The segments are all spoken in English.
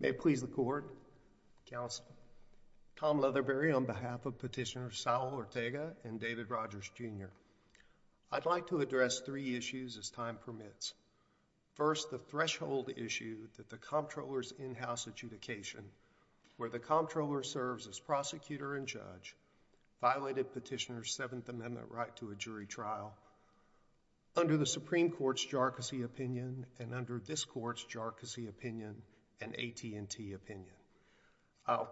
May it please the court, counsel, Tom Leatherbury on behalf of Petitioner Saul Ortega and David Rogers, Jr., I'd like to address three issues, as time permits. First, the threshold issue that the Comptroller's in-house adjudication, where the Comptroller serves as prosecutor and judge, violated Petitioner's Seventh Amendment right to a jury trial under the Supreme Court's jargousy opinion and under this Court's jargousy opinion and AT&T opinion. I'll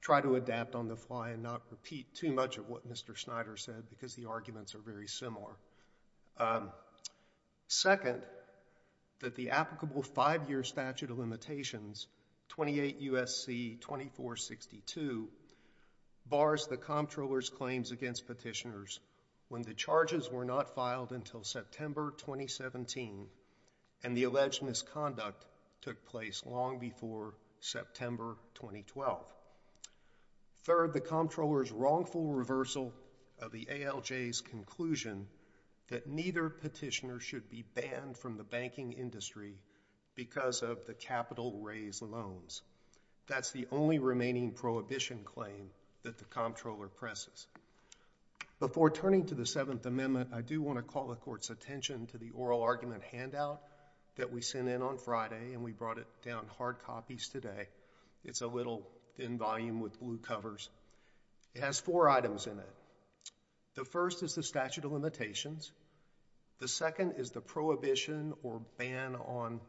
try to adapt on the fly and not repeat too much of what Mr. Snyder said because the arguments are very similar. Second, that the applicable five-year statute of limitations, 28 U.S.C. 2462, bars the Comptroller's claims against Petitioner's when the charges were not filed until September 2017 and the alleged misconduct took place long before September 2012. Third, the Comptroller's wrongful reversal of the ALJ's conclusion that neither Petitioner should be banned from the banking industry because of the capital-raised loans. That's the only remaining prohibition claim that the Comptroller presses. Before turning to the Seventh Amendment, I do want to call the Court's attention to the oral argument handout that we sent in on Friday and we brought it down hard copies today. It's a little thin volume with blue covers. It has four items in it. The first is the statute of limitations. The second is the prohibition or ban on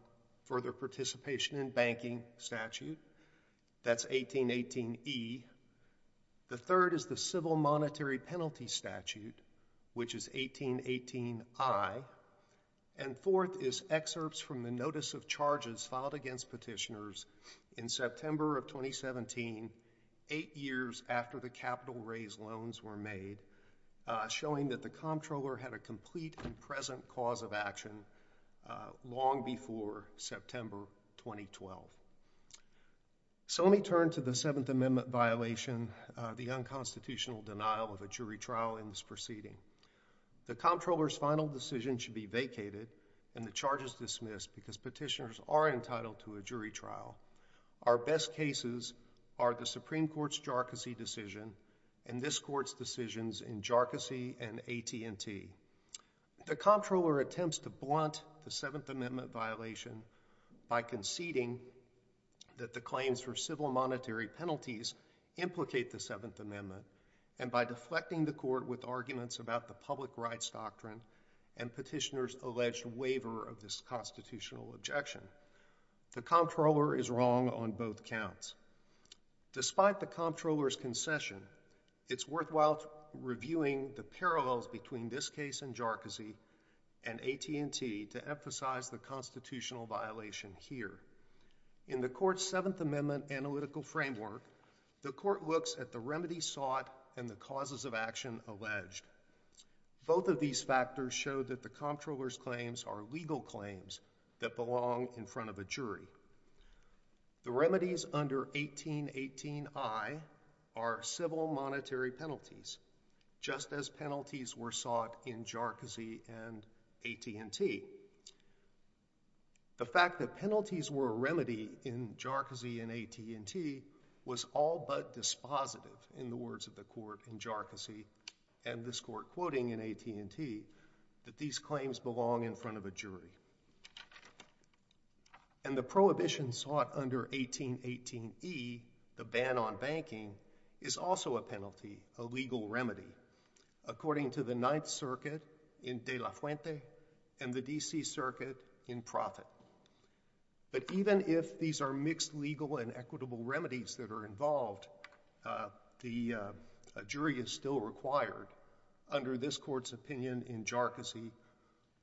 further participation in banking statute. That's 1818E. The third is the civil monetary penalty statute, which is 1818I. And fourth is excerpts from the notice of charges filed against Petitioner's in September of 2017, eight years after the capital-raised loans were made, showing that the Comptroller had a complete and present cause of action long before September 2012. So let me turn to the Seventh Amendment violation, the unconstitutional denial of a jury trial in this proceeding. The Comptroller's final decision should be vacated and the charges dismissed because Petitioners are entitled to a jury trial. Our best cases are the Supreme Court's Jharkhasi decision and this Court's decisions in Jharkhasi and AT&T. The Comptroller attempts to blunt the Seventh Amendment violation by conceding that the claims for civil monetary penalties implicate the Seventh Amendment and by deflecting the Court with arguments about the public rights doctrine and Petitioner's alleged waiver of this constitutional objection. The Comptroller is wrong on both counts. Despite the Comptroller's concession, it's worthwhile reviewing the parallels between this case in Jharkhasi and AT&T to emphasize the constitutional violation here. In the Court's Seventh Amendment analytical framework, the Court looks at the remedies sought and the causes of action alleged. Both of these factors show that the Comptroller's claims are legal claims that belong in front of a jury. The remedies under 1818I are civil monetary penalties, just as penalties were sought in Jharkhasi and AT&T. The fact that penalties were a remedy in Jharkhasi and AT&T was all but dispositive in the words of the Court in Jharkhasi and this Court quoting in AT&T that these claims belong in front of a jury. And the prohibition sought under 1818E, the ban on banking, is also a penalty, a legal remedy, according to the Ninth Circuit in De La Fuente and the D.C. Circuit in Profit. But even if these are mixed legal and equitable remedies that are involved, a jury is still required under this Court's opinion in Jharkhasi,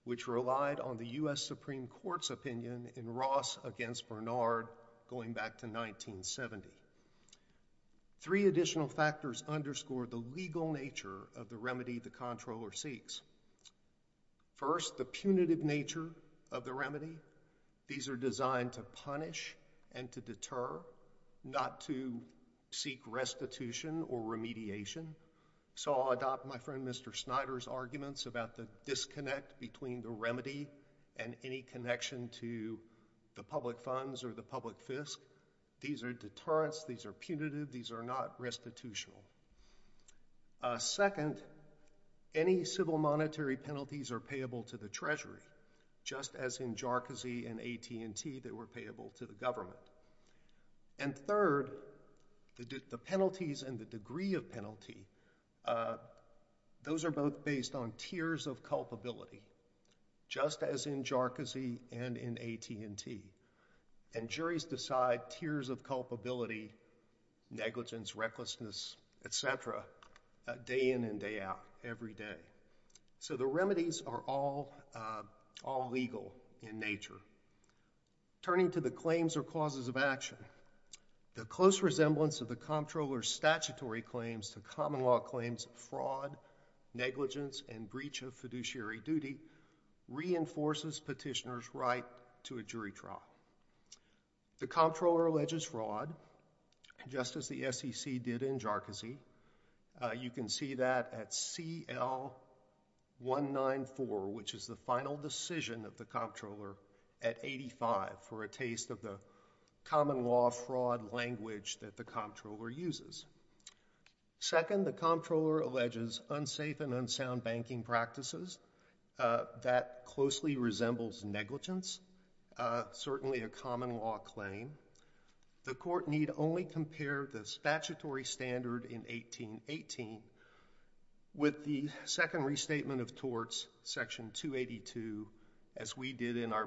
which relied on the U.S. Supreme Court's opinion in Ross against Bernard going back to 1970. Three additional factors underscore the legal nature of the remedy the Comptroller seeks. First, the punitive nature of the remedy. These are designed to punish and to deter, not to seek restitution or remediation. So I'll adopt my friend Mr. Snyder's arguments about the disconnect between the remedy and any connection to the public funds or the public insurance. These are punitive. These are not restitutional. Second, any civil monetary penalties are payable to the Treasury, just as in Jharkhasi and AT&T they were payable to the government. And third, the penalties and the degree of penalty, those are both based on tiers of culpability, just as in Jharkhasi and in AT&T. And juries decide tiers of culpability, negligence, recklessness, et cetera, day in and day out, every day. So the remedies are all legal in nature. Turning to the claims or causes of action, the close resemblance of the Comptroller's statutory claims to common law claims of fraud, negligence, and breach of fiduciary duty reinforces petitioner's right to a jury trial. The Comptroller alleges fraud, just as the SEC did in Jharkhasi. You can see that at CL-194, which is the final decision of the Comptroller, at 85 for a taste of the common law fraud language that the Comptroller uses. Second, the Comptroller alleges unsafe and unsound banking practices. That closely resembles negligence, certainly a common law claim. The Court need only compare the statutory standard in 1818 with the second restatement of torts, Section 282, as we did in our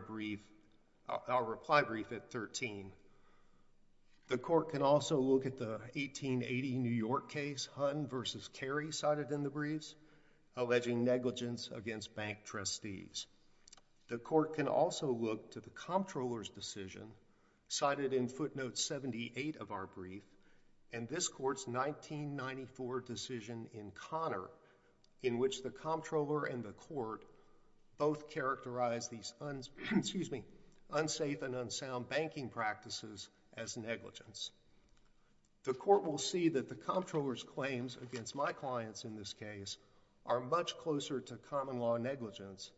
reply brief at 13. The Court can also look at the 1880 New York case, Hunn v. Carey, cited in the briefs, alleging negligence against bank trustees. The Court can also look to the Comptroller's decision, cited in footnote 78 of our brief, and this Court's 1994 decision in Connor, in which the Comptroller and the Court both characterize these unsafe and unsound banking practices as negligence. The Court will see that the Comptroller's claims against my clients in this case are much closer to common law negligence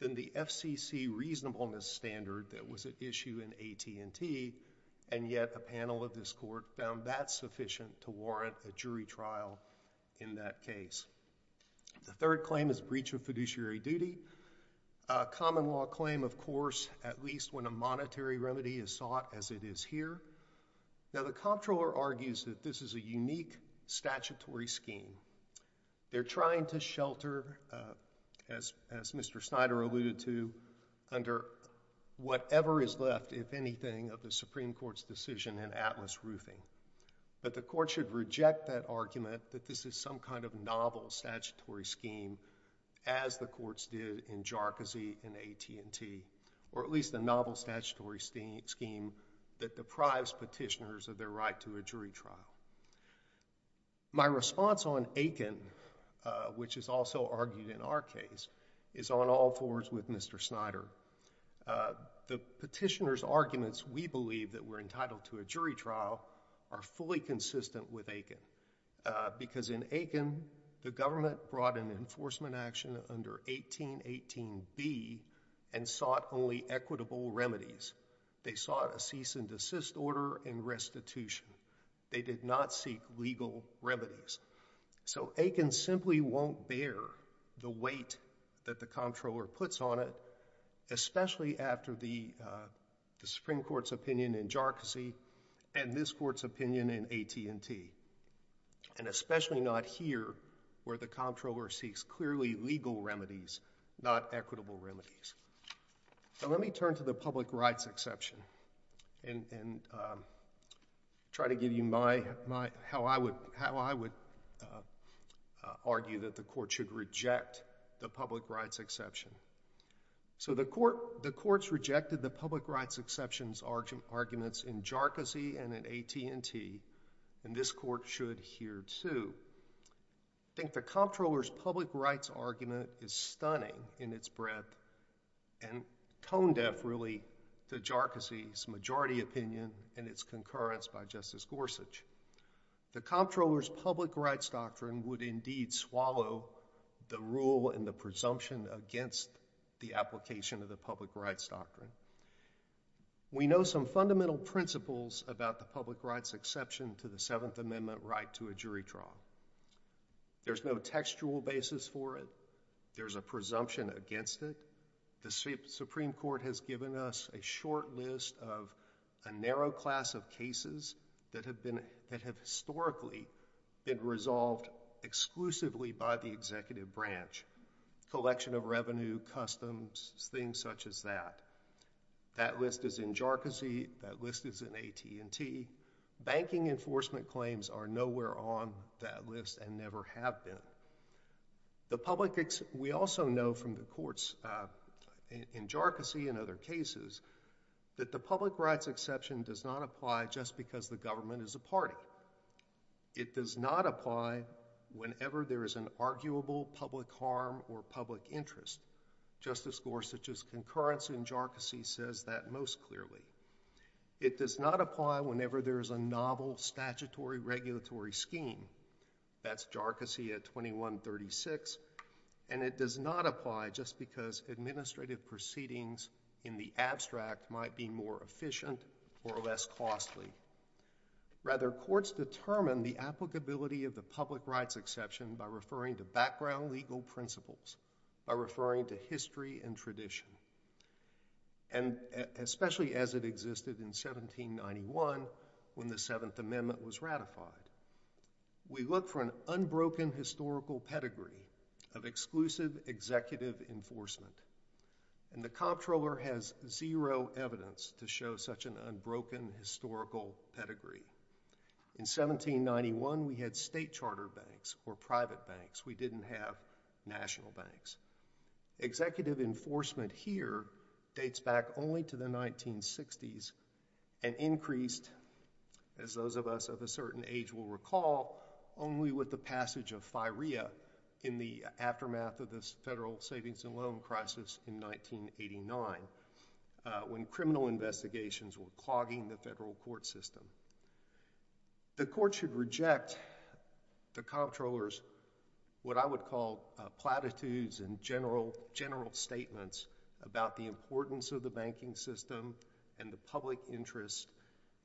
than the FCC reasonableness standard that was at issue in AT&T, and yet a panel of this Court found that sufficient to warrant a jury trial in that case. The third claim is breach of fiduciary duty, a common law claim, of course, at least when a monetary remedy is sought as it is here. Now, the Comptroller argues that this is a unique statutory scheme. They're trying to shelter, as Mr. Snyder alluded to, under whatever is left, if anything, of the Supreme Court's decision in Atlas Roofing. But the Court should reject that argument that this is some kind of novel statutory scheme, as the Courts did in Jarcozy and AT&T, or at least a novel statutory scheme that deprives petitioners of their right to a jury trial. My response on Aiken, which is also argued in our case, is on all fours with Mr. Snyder. The petitioner's arguments, we believe, that we're entitled to a jury trial are fully consistent with Aiken, because in Aiken, the government brought an enforcement action under 1818B and sought only equitable remedies. They sought a cease and desist order and restitution. They did not seek legal remedies. So Aiken simply won't bear the weight that the Comptroller puts on it, especially after the Supreme Court's opinion in Jarcozy and this Court's opinion in AT&T, and especially not here, where the Comptroller seeks clearly legal remedies, not equitable remedies. Now let me turn to the public rights exception and try to give you how I would argue that the Court should reject the public rights exception. So the Court's rejected the public rights exception in AT&T, and this Court should here, too. I think the Comptroller's public rights argument is stunning in its breadth and tone deaf, really, to Jarcozy's majority opinion and its concurrence by Justice Gorsuch. The Comptroller's public rights doctrine would indeed swallow the rule and the presumption against the application of the public rights doctrine. We know some fundamental principles about the public rights exception to the Seventh Amendment right to a jury trial. There's no textual basis for it. There's a presumption against it. The Supreme Court has given us a short list of a narrow class of cases that have historically been resolved exclusively by the executive branch—collection of revenue, customs, things such as that. That list is in Jarcozy. That list is in AT&T. Banking enforcement claims are nowhere on that list and never have been. We also know from the Court's, in Jarcozy and other cases, that the public rights exception does not apply just because the government is a party. It does not apply whenever there is an arguable public harm or public interest. Justice Gorsuch's concurrence in Jarcozy says that most clearly. It does not apply whenever there is a novel statutory regulatory scheme. That's Jarcozy at 2136. And it does not apply just because administrative proceedings in the abstract might be more efficient or less costly. Rather, courts determine the applicability of the public rights exception by referring to background legal principles, by referring to history and tradition, and especially as it existed in 1791 when the Seventh Amendment was ratified. We look for an unbroken historical pedigree of exclusive executive enforcement, and the comptroller has zero evidence to show such an unbroken historical pedigree. In 1791, we had state charter banks or private banks. We didn't have national banks. Executive enforcement here dates back only to the 1960s and increased, as those of us of a certain age will recall, only with the passage of FIREA in the aftermath of this federal savings and loan crisis in 1989 when criminal investigations were clogging the federal court system. The court should reject the comptroller's what I would call platitudes and general statements about the importance of the banking system and the public interest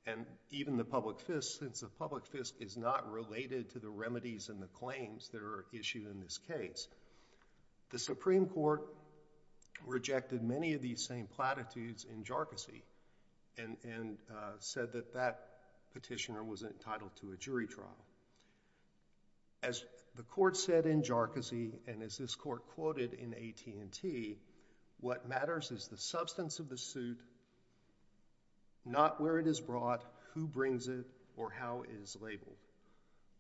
and even the public fist since the public fist is not related to the remedies and the claims that are issued in this case. The Supreme Court rejected many of these same platitudes in Jarcozy and said that that petitioner was entitled to a jury trial. As the court said in Jarcozy and as this court quoted in AT&T, what matters is the substance of the suit, not where it is brought, who brings it, or how it is labeled.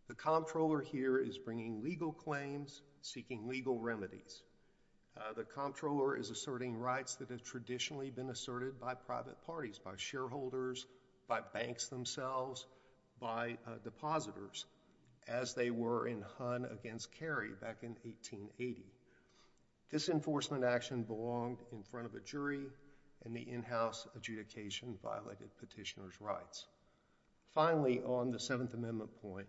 The comptroller here is bringing legal claims, seeking legal remedies. The comptroller is asserting rights that have traditionally been asserted by private parties, by shareholders, by banks themselves, by depositors, as they were in Hunn v. Carey back in 1880. This enforcement action belonged in front of a jury and the in-house adjudication violated petitioner's rights. Finally, on the Seventh Amendment point,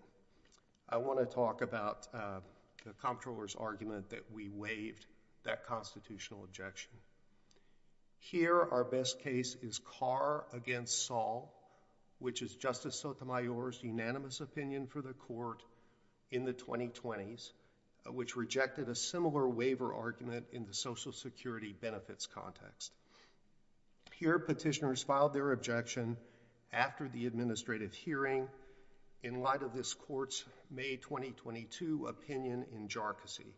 I want to talk about the comptroller's argument that we waived that constitutional objection. Here, our best case is Carr v. Saul, which is Justice Sotomayor's unanimous opinion for the court in the 2020s, which rejected a similar waiver argument in the Social Security benefits context. Here, petitioners filed their objection after the administrative hearing in light of this court's May 2022 opinion in Jarcozy.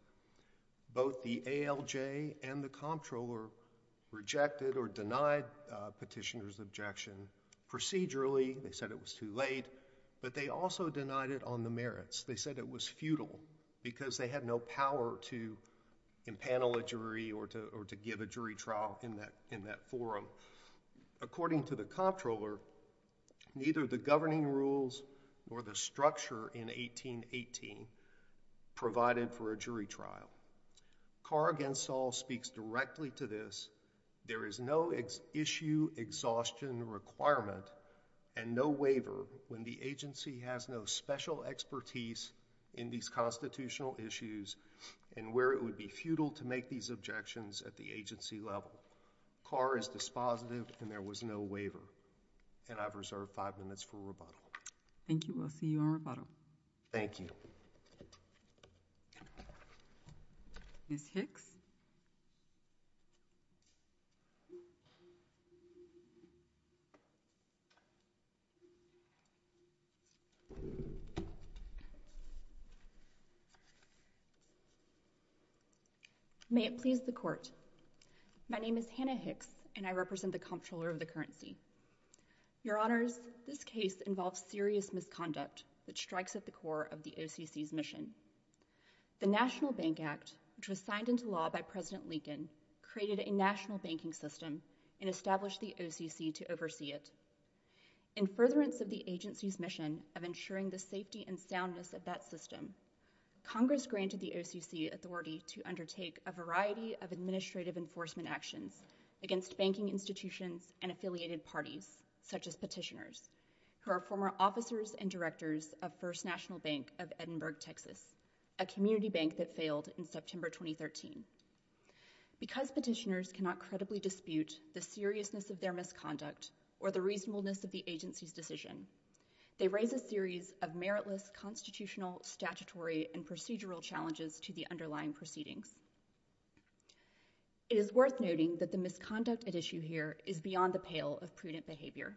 Both the ALJ and the comptroller rejected or denied petitioner's objection procedurally. They said it was too late, but they also denied it on the merits. They said it was futile because they had no power to impanel a jury or to give a jury trial in that forum. According to the comptroller, neither the governing rules nor the structure in 1818 provided for a jury trial. Carr v. Saul speaks directly to this. There is no issue exhaustion requirement and no waiver when the agency has no special expertise in these constitutional issues and where it would be futile to make these objections at the agency level. Carr is dispositive and there was no waiver. I've reserved five minutes for rebuttal. Thank you. We'll see you on rebuttal. Thank you. Ms. Hicks? May it please the court. My name is Hannah Hicks and I represent the comptroller of the OCC. Your Honors, this case involves serious misconduct that strikes at the core of the OCC's mission. The National Bank Act, which was signed into law by President Lincoln, created a national banking system and established the OCC to oversee it. In furtherance of the agency's mission of ensuring the safety and soundness of that system, Congress granted the OCC authority to undertake a variety of administrative enforcement actions against banking institutions and affiliated parties, such as petitioners, who are former officers and directors of First National Bank of Edinburgh, Texas, a community bank that failed in September 2013. Because petitioners cannot credibly dispute the seriousness of their misconduct or the reasonableness of the agency's decision, they raise a series of meritless constitutional, statutory, and procedural challenges to the underlying proceedings. It is worth noting that the misconduct at issue here is beyond the pale of prudent behavior.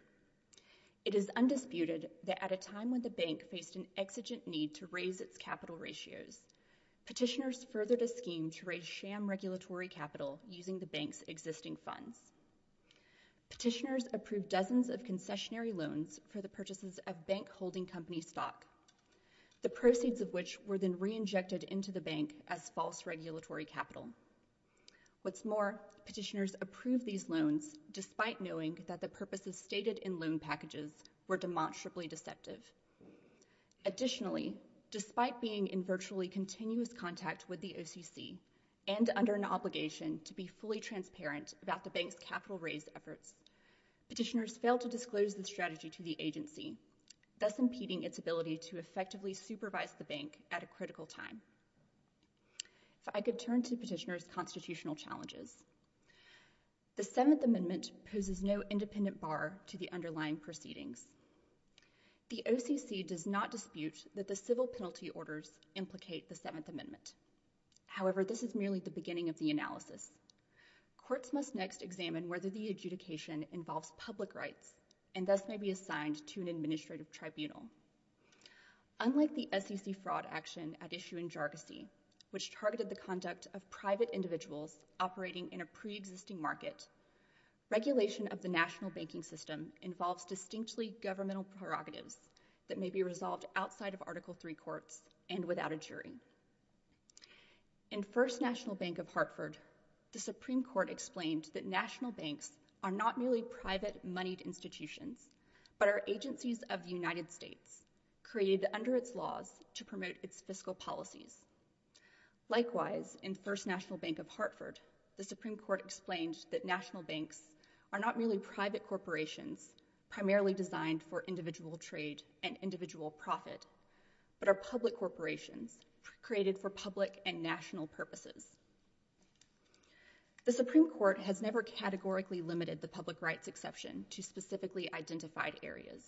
It is undisputed that at a time when the bank faced an exigent need to raise its capital ratios, petitioners furthered a scheme to raise sham regulatory capital using the bank's existing funds. Petitioners approved dozens of concessionary loans for the purchases of bank holding company stock, the proceeds of which were then re-injected into the bank as false regulatory capital. What's more, petitioners approved these loans despite knowing that the purposes stated in loan packages were demonstrably deceptive. Additionally, despite being in virtually continuous contact with the OCC and under an obligation to be fully transparent about the bank's capital raise efforts, petitioners failed to disclose the strategy to the agency, thus impeding its ability to effectively supervise the bank at a critical time. If I could turn to petitioners' constitutional challenges. The Seventh Amendment poses no independent bar to the underlying proceedings. The OCC does not dispute that the civil penalty orders implicate the Seventh Amendment. However, this is merely the beginning of the analysis. Courts must next examine whether the adjudication involves public rights and thus may be assigned to an administrative tribunal. Unlike the SEC fraud action at issue in Jargosy, which targeted the conduct of private individuals operating in a pre-existing market, regulation of the national banking system involves distinctly governmental prerogatives that may be resolved outside of Article III courts and without a jury. In First National Bank of Hartford, the Supreme Court explained that national banks are not merely private moneyed institutions but are agencies of the United States created under its laws to promote its fiscal policies. Likewise, in First National Bank of Hartford, the Supreme Court explained that national banks are not merely private corporations primarily designed for individual trade and individual profit but are public corporations created for public and national purposes. The Supreme Court has never categorically limited the public rights exception to specifically identified areas.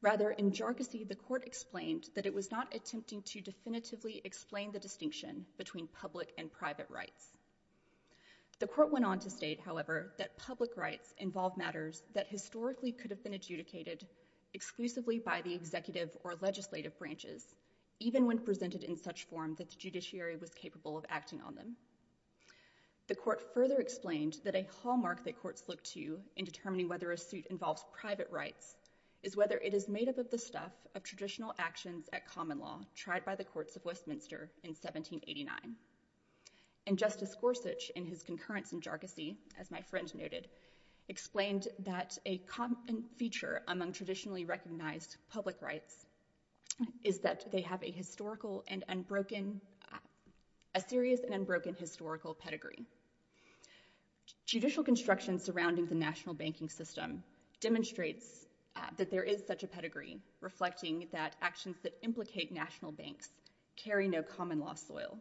Rather, in Jargosy, the court explained that it was not attempting to definitively explain the distinction between public and private rights. The court went on to state, however, that public rights involve matters that historically could have been adjudicated exclusively by the executive or legislative branches, even when presented in such form that the judiciary was capable of acting on them. The court further explained that a hallmark that courts look to in determining whether a suit involves private rights is whether it is made up of the stuff of traditional actions at common law tried by the courts of Westminster in 1789. And Justice Gorsuch, in his concurrence in Jargosy, as my friend noted, explained that a common feature among traditionally recognized public rights is that they have a historical and unbroken, a serious and unbroken historical pedigree. Judicial construction surrounding the national banking system demonstrates that there is such a pedigree, reflecting that actions that implicate national banks carry no common law soil.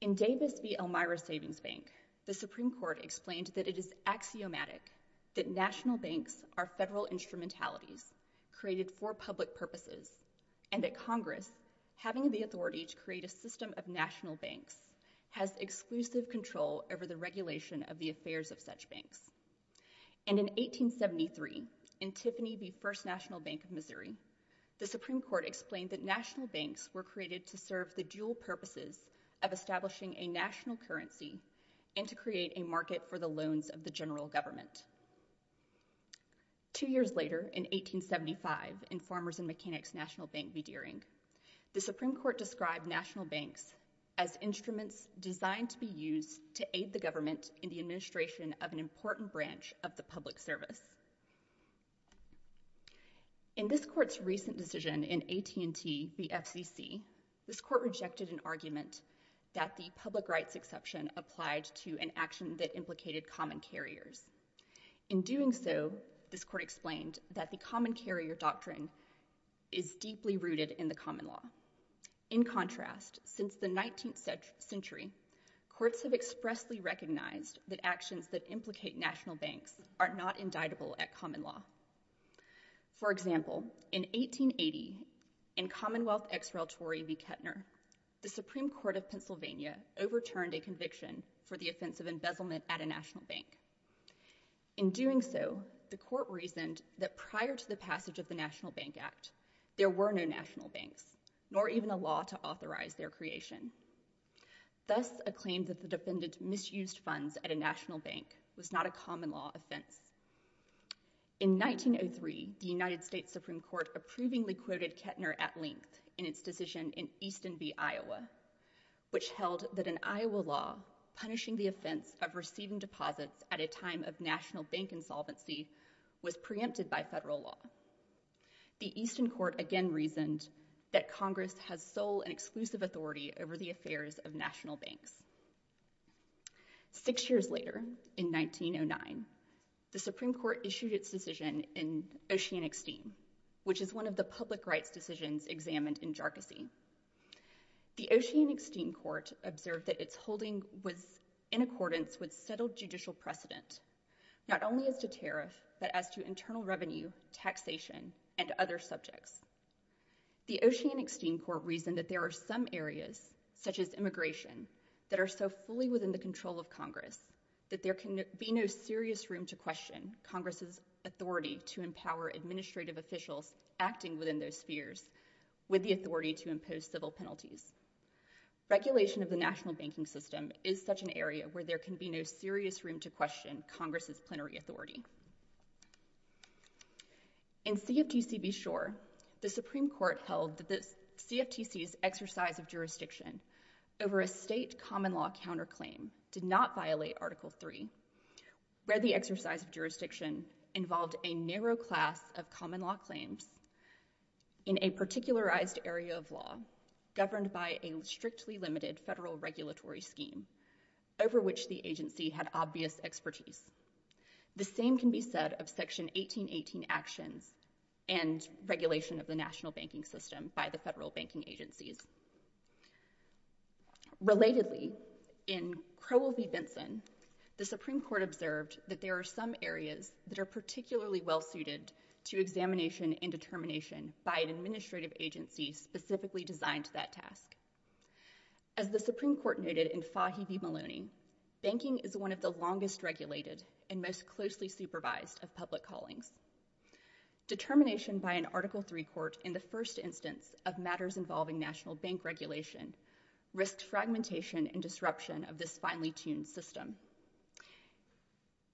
In Davis v. Elmira Savings Bank, the Supreme Court explained that it is axiomatic that national banks are federal instrumentalities created for public purposes and that Congress, having the authority to create a system of national banks, has exclusive control over the regulation of the affairs of such banks. And in 1873, in Tiffany v. First National Bank of Missouri, the Supreme Court explained that national banks were created to serve the dual purposes of establishing a national currency and to create a market for the loans of the general government. Two years later, in 1875, in Farmers and Mechanics National Bank v. Deering, the Supreme Court described national banks as instruments designed to be used to aid the government in the administration of an important branch of the public service. In this Court's recent decision in AT&T v. FCC, this Court rejected an argument that the public implicated common carriers. In doing so, this Court explained that the common carrier doctrine is deeply rooted in the common law. In contrast, since the 19th century, courts have expressly recognized that actions that implicate national banks are not indictable at common law. For example, in 1880, in Commonwealth x-relatory v. Kettner, the Supreme Court of Pennsylvania overturned a national bank. In doing so, the Court reasoned that prior to the passage of the National Bank Act, there were no national banks, nor even a law to authorize their creation. Thus, a claim that the defendant misused funds at a national bank was not a common law offense. In 1903, the United States Supreme Court approvingly quoted Kettner at length in its Easton v. Iowa, which held that an Iowa law punishing the offense of receiving deposits at a time of national bank insolvency was preempted by federal law. The Easton Court again reasoned that Congress has sole and exclusive authority over the affairs of national banks. Six years later, in 1909, the Supreme Court issued its decision in Oceanic Steam, which is one of the public rights decisions examined in jarczy. The Oceanic Steam Court observed that its holding was in accordance with settled judicial precedent, not only as to tariff, but as to internal revenue, taxation, and other subjects. The Oceanic Steam Court reasoned that there are some areas, such as immigration, that are so fully within the of Congress that there can be no serious room to question Congress's authority to empower administrative officials acting within those spheres with the authority to impose civil penalties. Regulation of the national banking system is such an area where there can be no serious room to question Congress's plenary authority. In CFTC v. Schor, the Supreme Court held that the CFTC's exercise of jurisdiction over a state common law counterclaim did not violate Article III, where the exercise of jurisdiction involved a narrow class of common law claims in a particularized area of law governed by a strictly limited federal regulatory scheme over which the agency had obvious expertise. The same can be said of Section 1818 actions and regulation of the national banking system by the federal banking agencies. Relatedly, in Crowell v. Benson, the Supreme Court observed that there are some areas that are particularly well suited to examination and determination by an administrative agency specifically designed to that task. As the Supreme Court noted in Fahy v. Maloney, banking is one of the longest regulated and most closely supervised of public callings. Determination by an Article III court in the first instance of matters involving national bank regulation risked fragmentation and disruption of this finely-tuned system.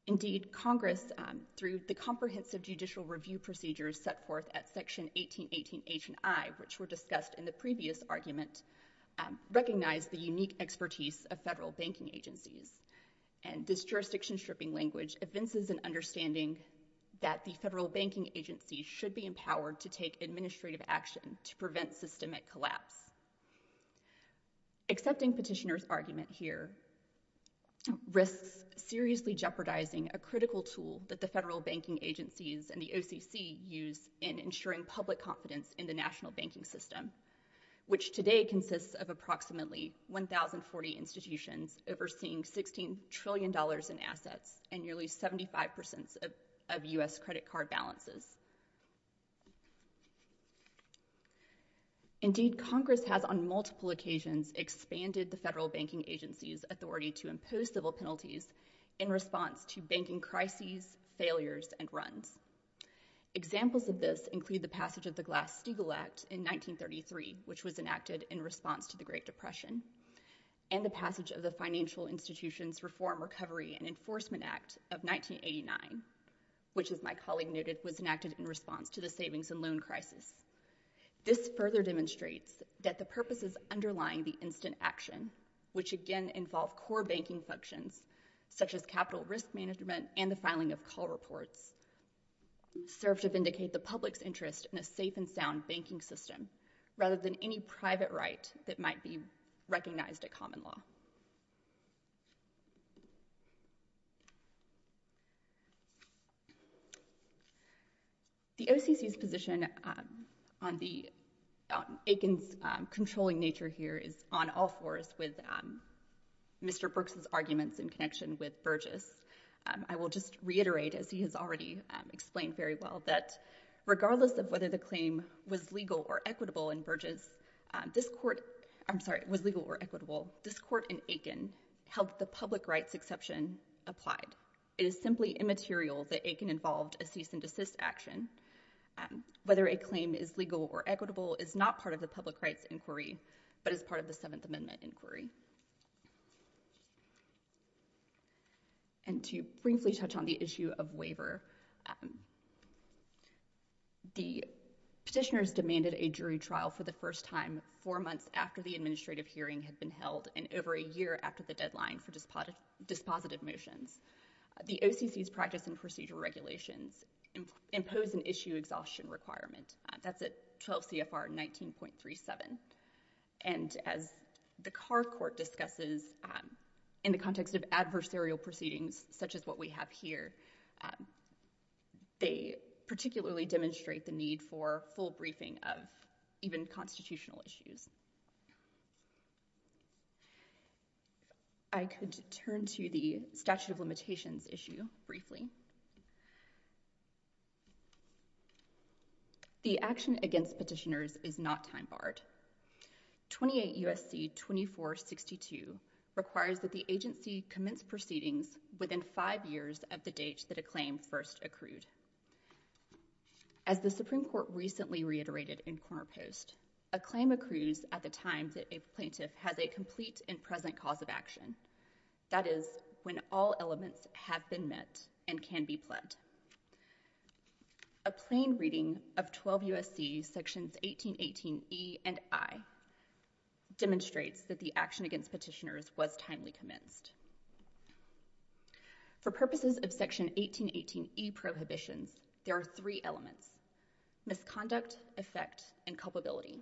Indeed, Congress, through the comprehensive judicial review procedures set forth at Section 1818 H and I, which were discussed in the previous argument, recognized the unique expertise of federal banking agencies, and this jurisdiction stripping language evinces an understanding that the federal banking agencies should be empowered to take administrative action to prevent systemic collapse. Accepting Petitioner's argument here risks seriously jeopardizing a critical tool that the federal banking agencies and the OCC use in ensuring public confidence in the national banking system, which today consists of approximately 1,040 institutions overseeing $16 trillion in assets and nearly 75% of U.S. credit card balances. Indeed, Congress has on multiple occasions expanded the federal banking agency's authority to impose civil penalties in response to banking crises, failures, and runs. Examples of this include the passage of the Glass-Steagall Act in 1933, which was enacted in response to the Great Depression, and the passage of the Financial Institutions Reform, Recovery, and Enforcement Act of 1989, which as my colleague noted was enacted in response to the savings and loan crisis. This further demonstrates that the purposes underlying the instant action, which again involve core banking functions such as capital risk management and the filing of call reports, serve to vindicate the public's interest in a safe and sound banking system rather than any private right that might be recognized at common law. The OCC's position on Aiken's controlling nature here is on all fours with Mr. Brooks's arguments in connection with Burgess. I will just reiterate, as he has already explained very well, that regardless of whether the claim was legal or equitable in Burgess, this court—I'm sorry, was legal or equitable—this court in Aiken held the public rights exception applied. It is simply immaterial that Aiken involved a cease and desist action. Whether a claim is legal or equitable is not part of the public rights inquiry, but is part of the Seventh Amendment inquiry. And to briefly touch on the issue of waiver, um, the petitioners demanded a jury trial for the first time four months after the administrative hearing had been held and over a year after the deadline for dispositive motions. The OCC's practice and procedure regulations impose an issue exhaustion requirement. That's at 12 CFR 19.37. And as the Carr Court discusses in the context of adversarial proceedings such as what we have here, um, they particularly demonstrate the need for full briefing of even constitutional issues. I could turn to the statute of limitations issue briefly. The action against petitioners is not time barred. 28 U.S.C. 2462 requires that the agency commence proceedings within five years of the date that a claim first accrued. As the Supreme Court recently reiterated in Corner Post, a claim accrues at the time that a plaintiff has a complete and present cause of action. That is, when all elements have been met and can be pledged. A plain reading of 12 U.S.C. sections 1818 E and I demonstrates that the action against petitioners was timely commenced. For purposes of section 1818 E prohibitions, there are three elements, misconduct, effect, and culpability.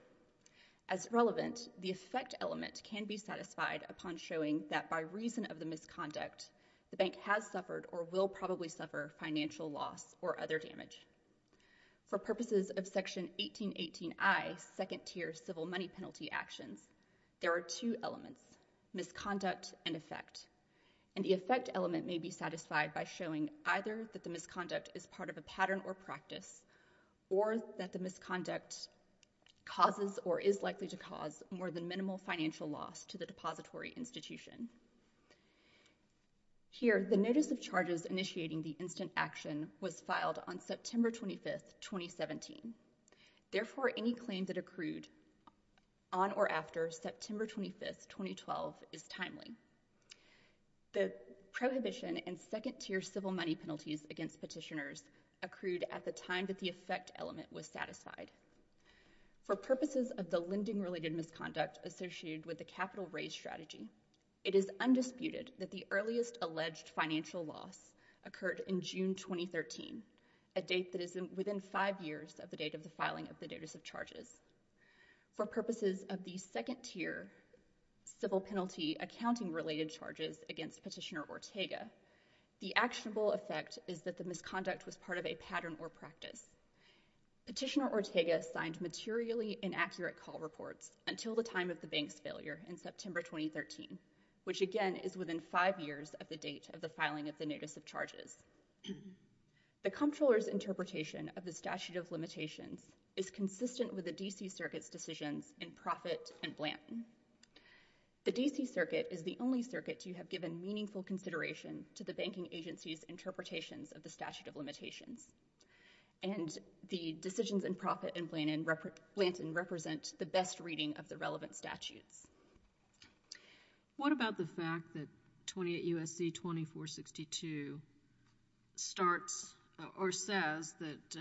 As relevant, the effect element can be satisfied upon showing that by reason of the misconduct, the bank has suffered or will probably suffer financial loss or other damage. For purposes of section 1818 I second tier civil money penalty actions, there are two elements, misconduct and effect. And the effect element may be satisfied by showing either that the misconduct is part of a pattern or practice or that the misconduct causes or is likely to cause more than minimal financial loss to the depository institution. Here, the notice of charges initiating the instant action was filed on September 25, 2017. Therefore, any claim that accrued on or after September 25, 2012 is timely. The prohibition and second tier civil money penalties against petitioners accrued at the time that the effect element was satisfied. For purposes of the lending-related misconduct associated with the capital raise strategy, it is undisputed that the earliest alleged financial loss occurred in June 2013, a date that is within five years of the date of the filing of the notice of charges. For purposes of the second tier civil penalty accounting-related charges against Petitioner Ortega, the actionable effect is that the misconduct was part of a pattern or practice. Petitioner Ortega signed materially inaccurate call reports until the time of the bank's failure in September 2013, which again is within five years of the date of the filing of the notice of charges. The Comptroller's interpretation of the statute of limitations is consistent with the D.C. Circuit's decisions in Profitt and Blanton. The D.C. Circuit is the only circuit to have given meaningful consideration to the banking agency's interpretations of the statute of limitations. And the decisions in Profitt and Blanton represent the best reading of the relevant statutes. What about the fact that 28 U.S.C. 2462 starts or says that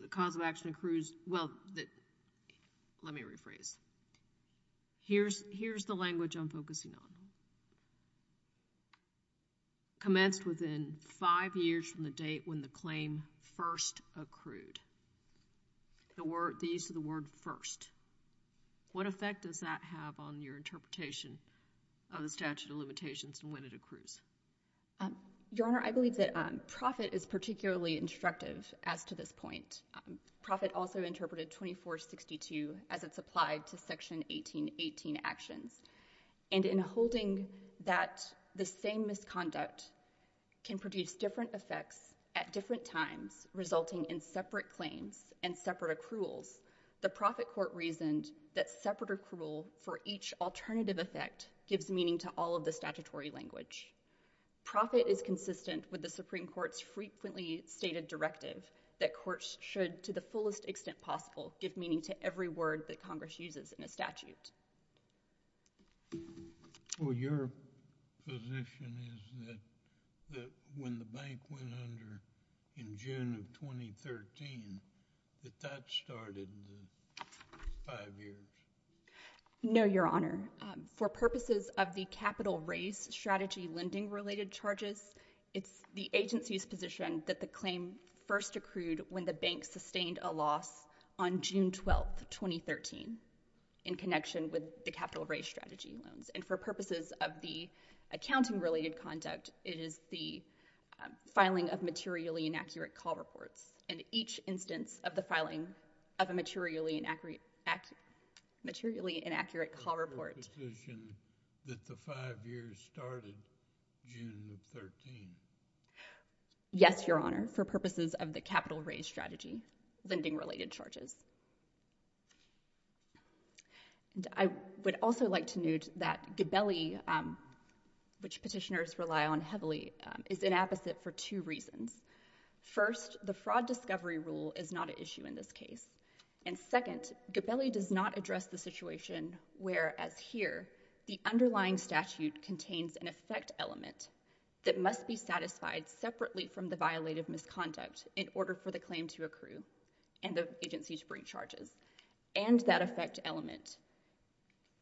the cause of action accrues, well, let me rephrase. Here's the language I'm focusing on. Commenced within five years from the date when the claim first accrued. These are the words first. What effect does that have on your interpretation of the statute of limitations and when it accrues? Your Honor, I believe that Profitt is particularly instructive as to this point. Profitt also interpreted 2462 as it's applied to Section 1818 actions. And in holding that the same misconduct can produce different effects at different times, resulting in separate claims and separate accruals, the Profitt Court reasoned that separate accrual for each alternative effect gives meaning to all of the statutory language. Profitt is consistent with the should to the fullest extent possible give meaning to every word that Congress uses in a statute. Well, your position is that when the bank went under in June of 2013, that that started five years? No, Your Honor. For purposes of the capital raise strategy lending related charges, it's the agency's position that the claim first accrued when the bank sustained a loss on June 12, 2013, in connection with the capital raise strategy loans. And for purposes of the accounting related conduct, it is the filing of materially inaccurate call reports. And each instance of the filing of a materially inaccurate, materially inaccurate call report. Your position that the five years started June of 13? Yes, Your Honor, for purposes of the capital raise strategy lending related charges. And I would also like to note that Gabelli, which petitioners rely on heavily, is an opposite for two reasons. First, the fraud discovery rule is not an issue in this case. And second, Gabelli does not address the situation where, as here, the underlying statute contains an effect element that must be satisfied separately from the violative misconduct in order for the claim to accrue and the agency to bring charges. And that effect element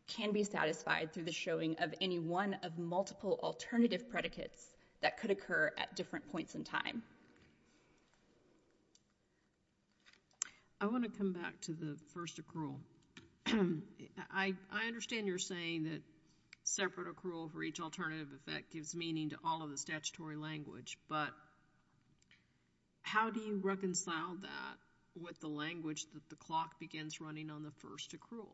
can be satisfied through the showing of any one of multiple alternative predicates that could occur at different points in time. I want to come back to the first accrual. I understand you're saying that separate accrual for each alternative effect gives meaning to all of the statutory language, but how do you reconcile that with the language that the clock begins running on the first accrual?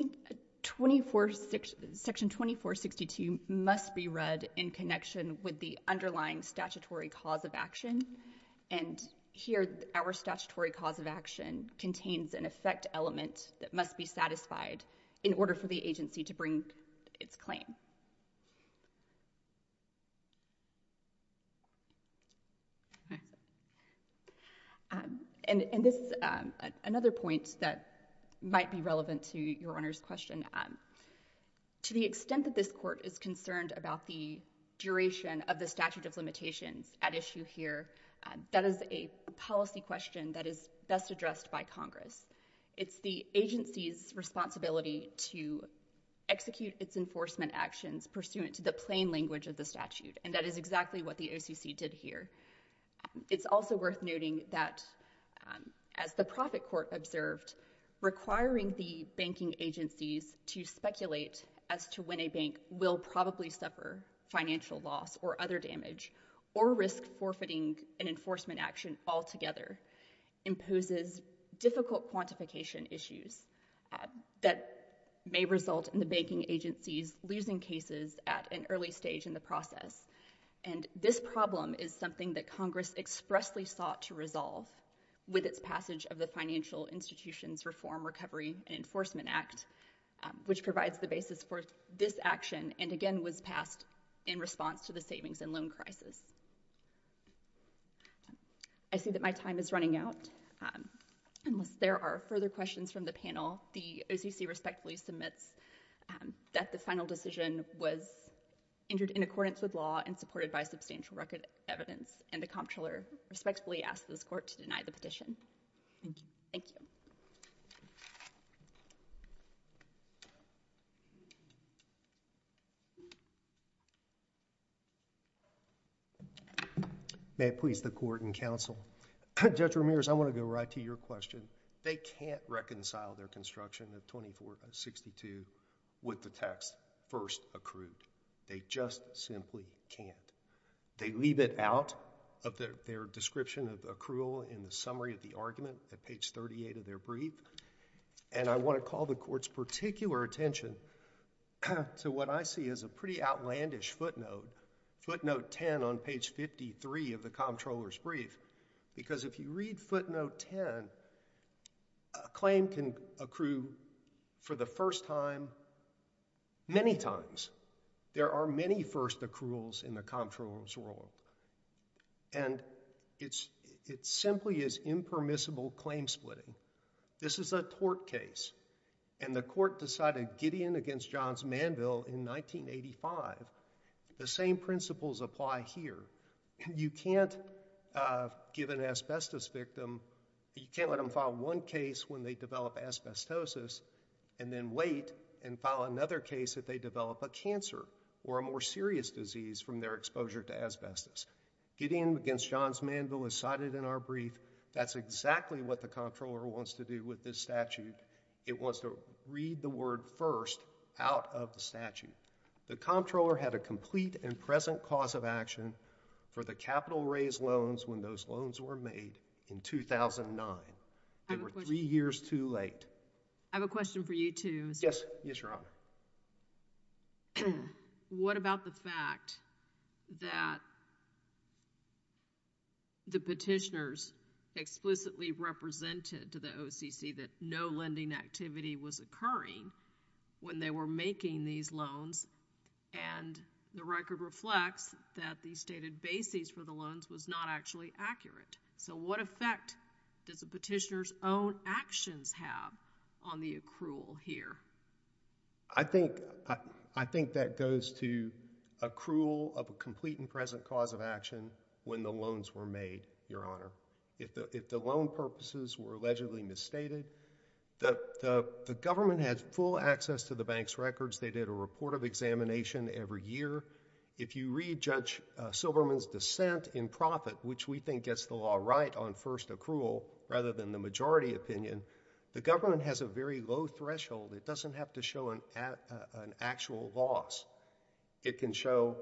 I think Section 2462 must be read in connection with the underlying statutory cause of action. And here, our statutory cause of action contains an effect element that must be satisfied in order for the agency to bring its claim. And this is another point that might be relevant to your Honor's question. To the extent that this court is concerned about the duration of the statute of limitations at issue here, that is a policy question that is best addressed by Congress. It's the agency's responsibility to execute its enforcement actions pursuant to the plain language of the statute, and that is exactly what the OCC did here. It's also worth noting that, as the Profit Court observed, requiring the banking agencies to speculate as to when a bank will probably suffer financial loss or other damage or risk forfeiting an enforcement action altogether imposes difficult quantification issues that may result in the banking agencies losing cases at an early stage in the process. And this problem is something that Congress expressly sought to resolve with its passage of the Financial Institutions Reform, Recovery, and Enforcement Act, which provides the basis for this action and, again, was passed in response to the savings and loan crisis. I see that my time is running out. Unless there are further questions from the panel, the OCC respectfully submits that the final decision was entered in accordance with law and supported by substantial record evidence, and the Comptroller respectfully asks this Court to deny the petition. Thank you. May it please the Court and Counsel. Judge Ramirez, I want to go right to your question. They can't reconcile their construction of 2462 with the text, first accrued. They just simply can't. They leave it out of their description of accrual in the summary of the argument at page 38 of their brief, and I want to call the Court's particular attention to what I pretty outlandish footnote, footnote 10 on page 53 of the Comptroller's brief, because if you read footnote 10, a claim can accrue for the first time many times. There are many first accruals in the Comptroller's world, and it simply is impermissible claim splitting. This is a tort case, and the Court decided Gideon against Johns Manville in 1985. The same principles apply here. You can't give an asbestos victim, you can't let them file one case when they develop asbestosis and then wait and file another case if they develop a cancer or a more serious disease from their exposure to asbestos. Gideon against Johns Manville is in our brief. That's exactly what the Comptroller wants to do with this statute. It wants to read the word first out of the statute. The Comptroller had a complete and present cause of action for the capital-raised loans when those loans were made in 2009. They were three years too late. I have a question for you, too. Yes. Yes, Your Honor. What about the fact that the petitioners explicitly represented to the OCC that no lending activity was occurring when they were making these loans, and the record reflects that the stated basis for the loans was not actually accurate. So what effect does a petitioner's actions have on the accrual here? I think that goes to accrual of a complete and present cause of action when the loans were made, Your Honor. If the loan purposes were allegedly misstated, the government had full access to the bank's records. They did a report of examination every year. If you read Judge Silberman's dissent in profit, which we think gets the law right on first accrual rather than the majority opinion, the government has a very low threshold. It doesn't have to show an actual loss. It can show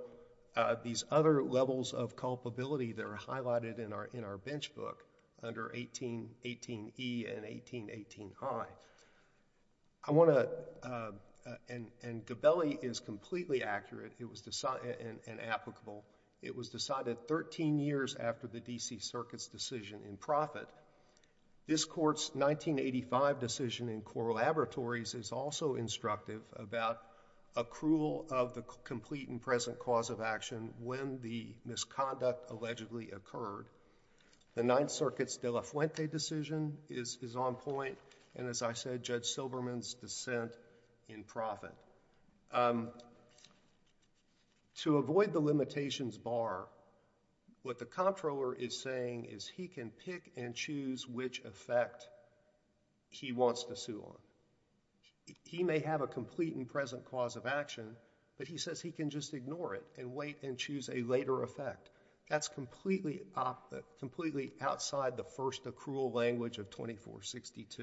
these other levels of culpability that are highlighted in our bench book under 18E and 18I. And Gabelli is completely accurate and applicable. It was decided 13 years after the D.C. Circuit's decision in profit. This Court's 1985 decision in Coral Laboratories is also instructive about accrual of the complete and present cause of action when the misconduct allegedly occurred. The Ninth Circuit's De La Fuente decision is on point, and as I said, Judge Silberman's dissent in profit. To avoid the limitations bar, what the comptroller is saying is he can pick and choose which effect he wants to sue on. He may have a complete and present cause of action, but he says he can just ignore it and wait and choose a later effect. That's completely outside the first accrual language of 2462.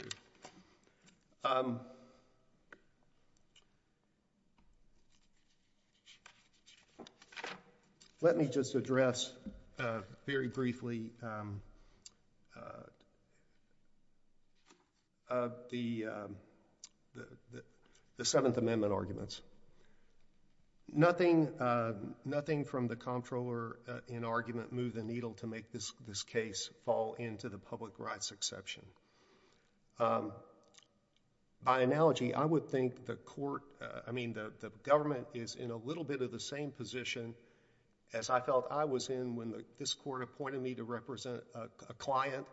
Let me just address very briefly the Seventh Amendment arguments. Nothing from the comptroller in argument moved the needle to make this case fall into the public rights exception. By analogy, I would think the government is in a little bit of the same position as I felt I was in when this Court appointed me to represent a client,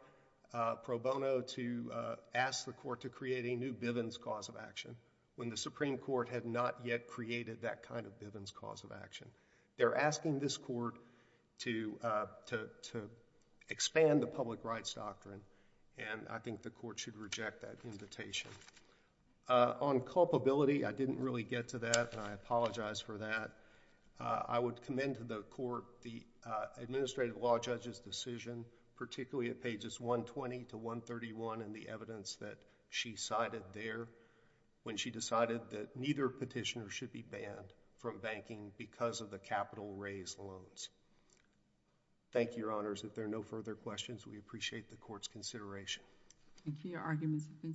pro bono, to ask the Court to create a new Bivens cause of action, when the Supreme Court had not yet created that kind of Bivens cause of action. They're asking this Court to expand the public rights doctrine, and I think the Court should reject that invitation. On culpability, I didn't really get to that, and I apologize for that. I would commend to the Court the administrative law judge's decision, particularly at pages 120 to 131 in the evidence that she cited there, when she decided that neither petitioner should be banned from banking because of the capital loans. Thank you, Your Honors. If there are no further questions, we appreciate the Court's consideration. Thank you. Your arguments have been submitted.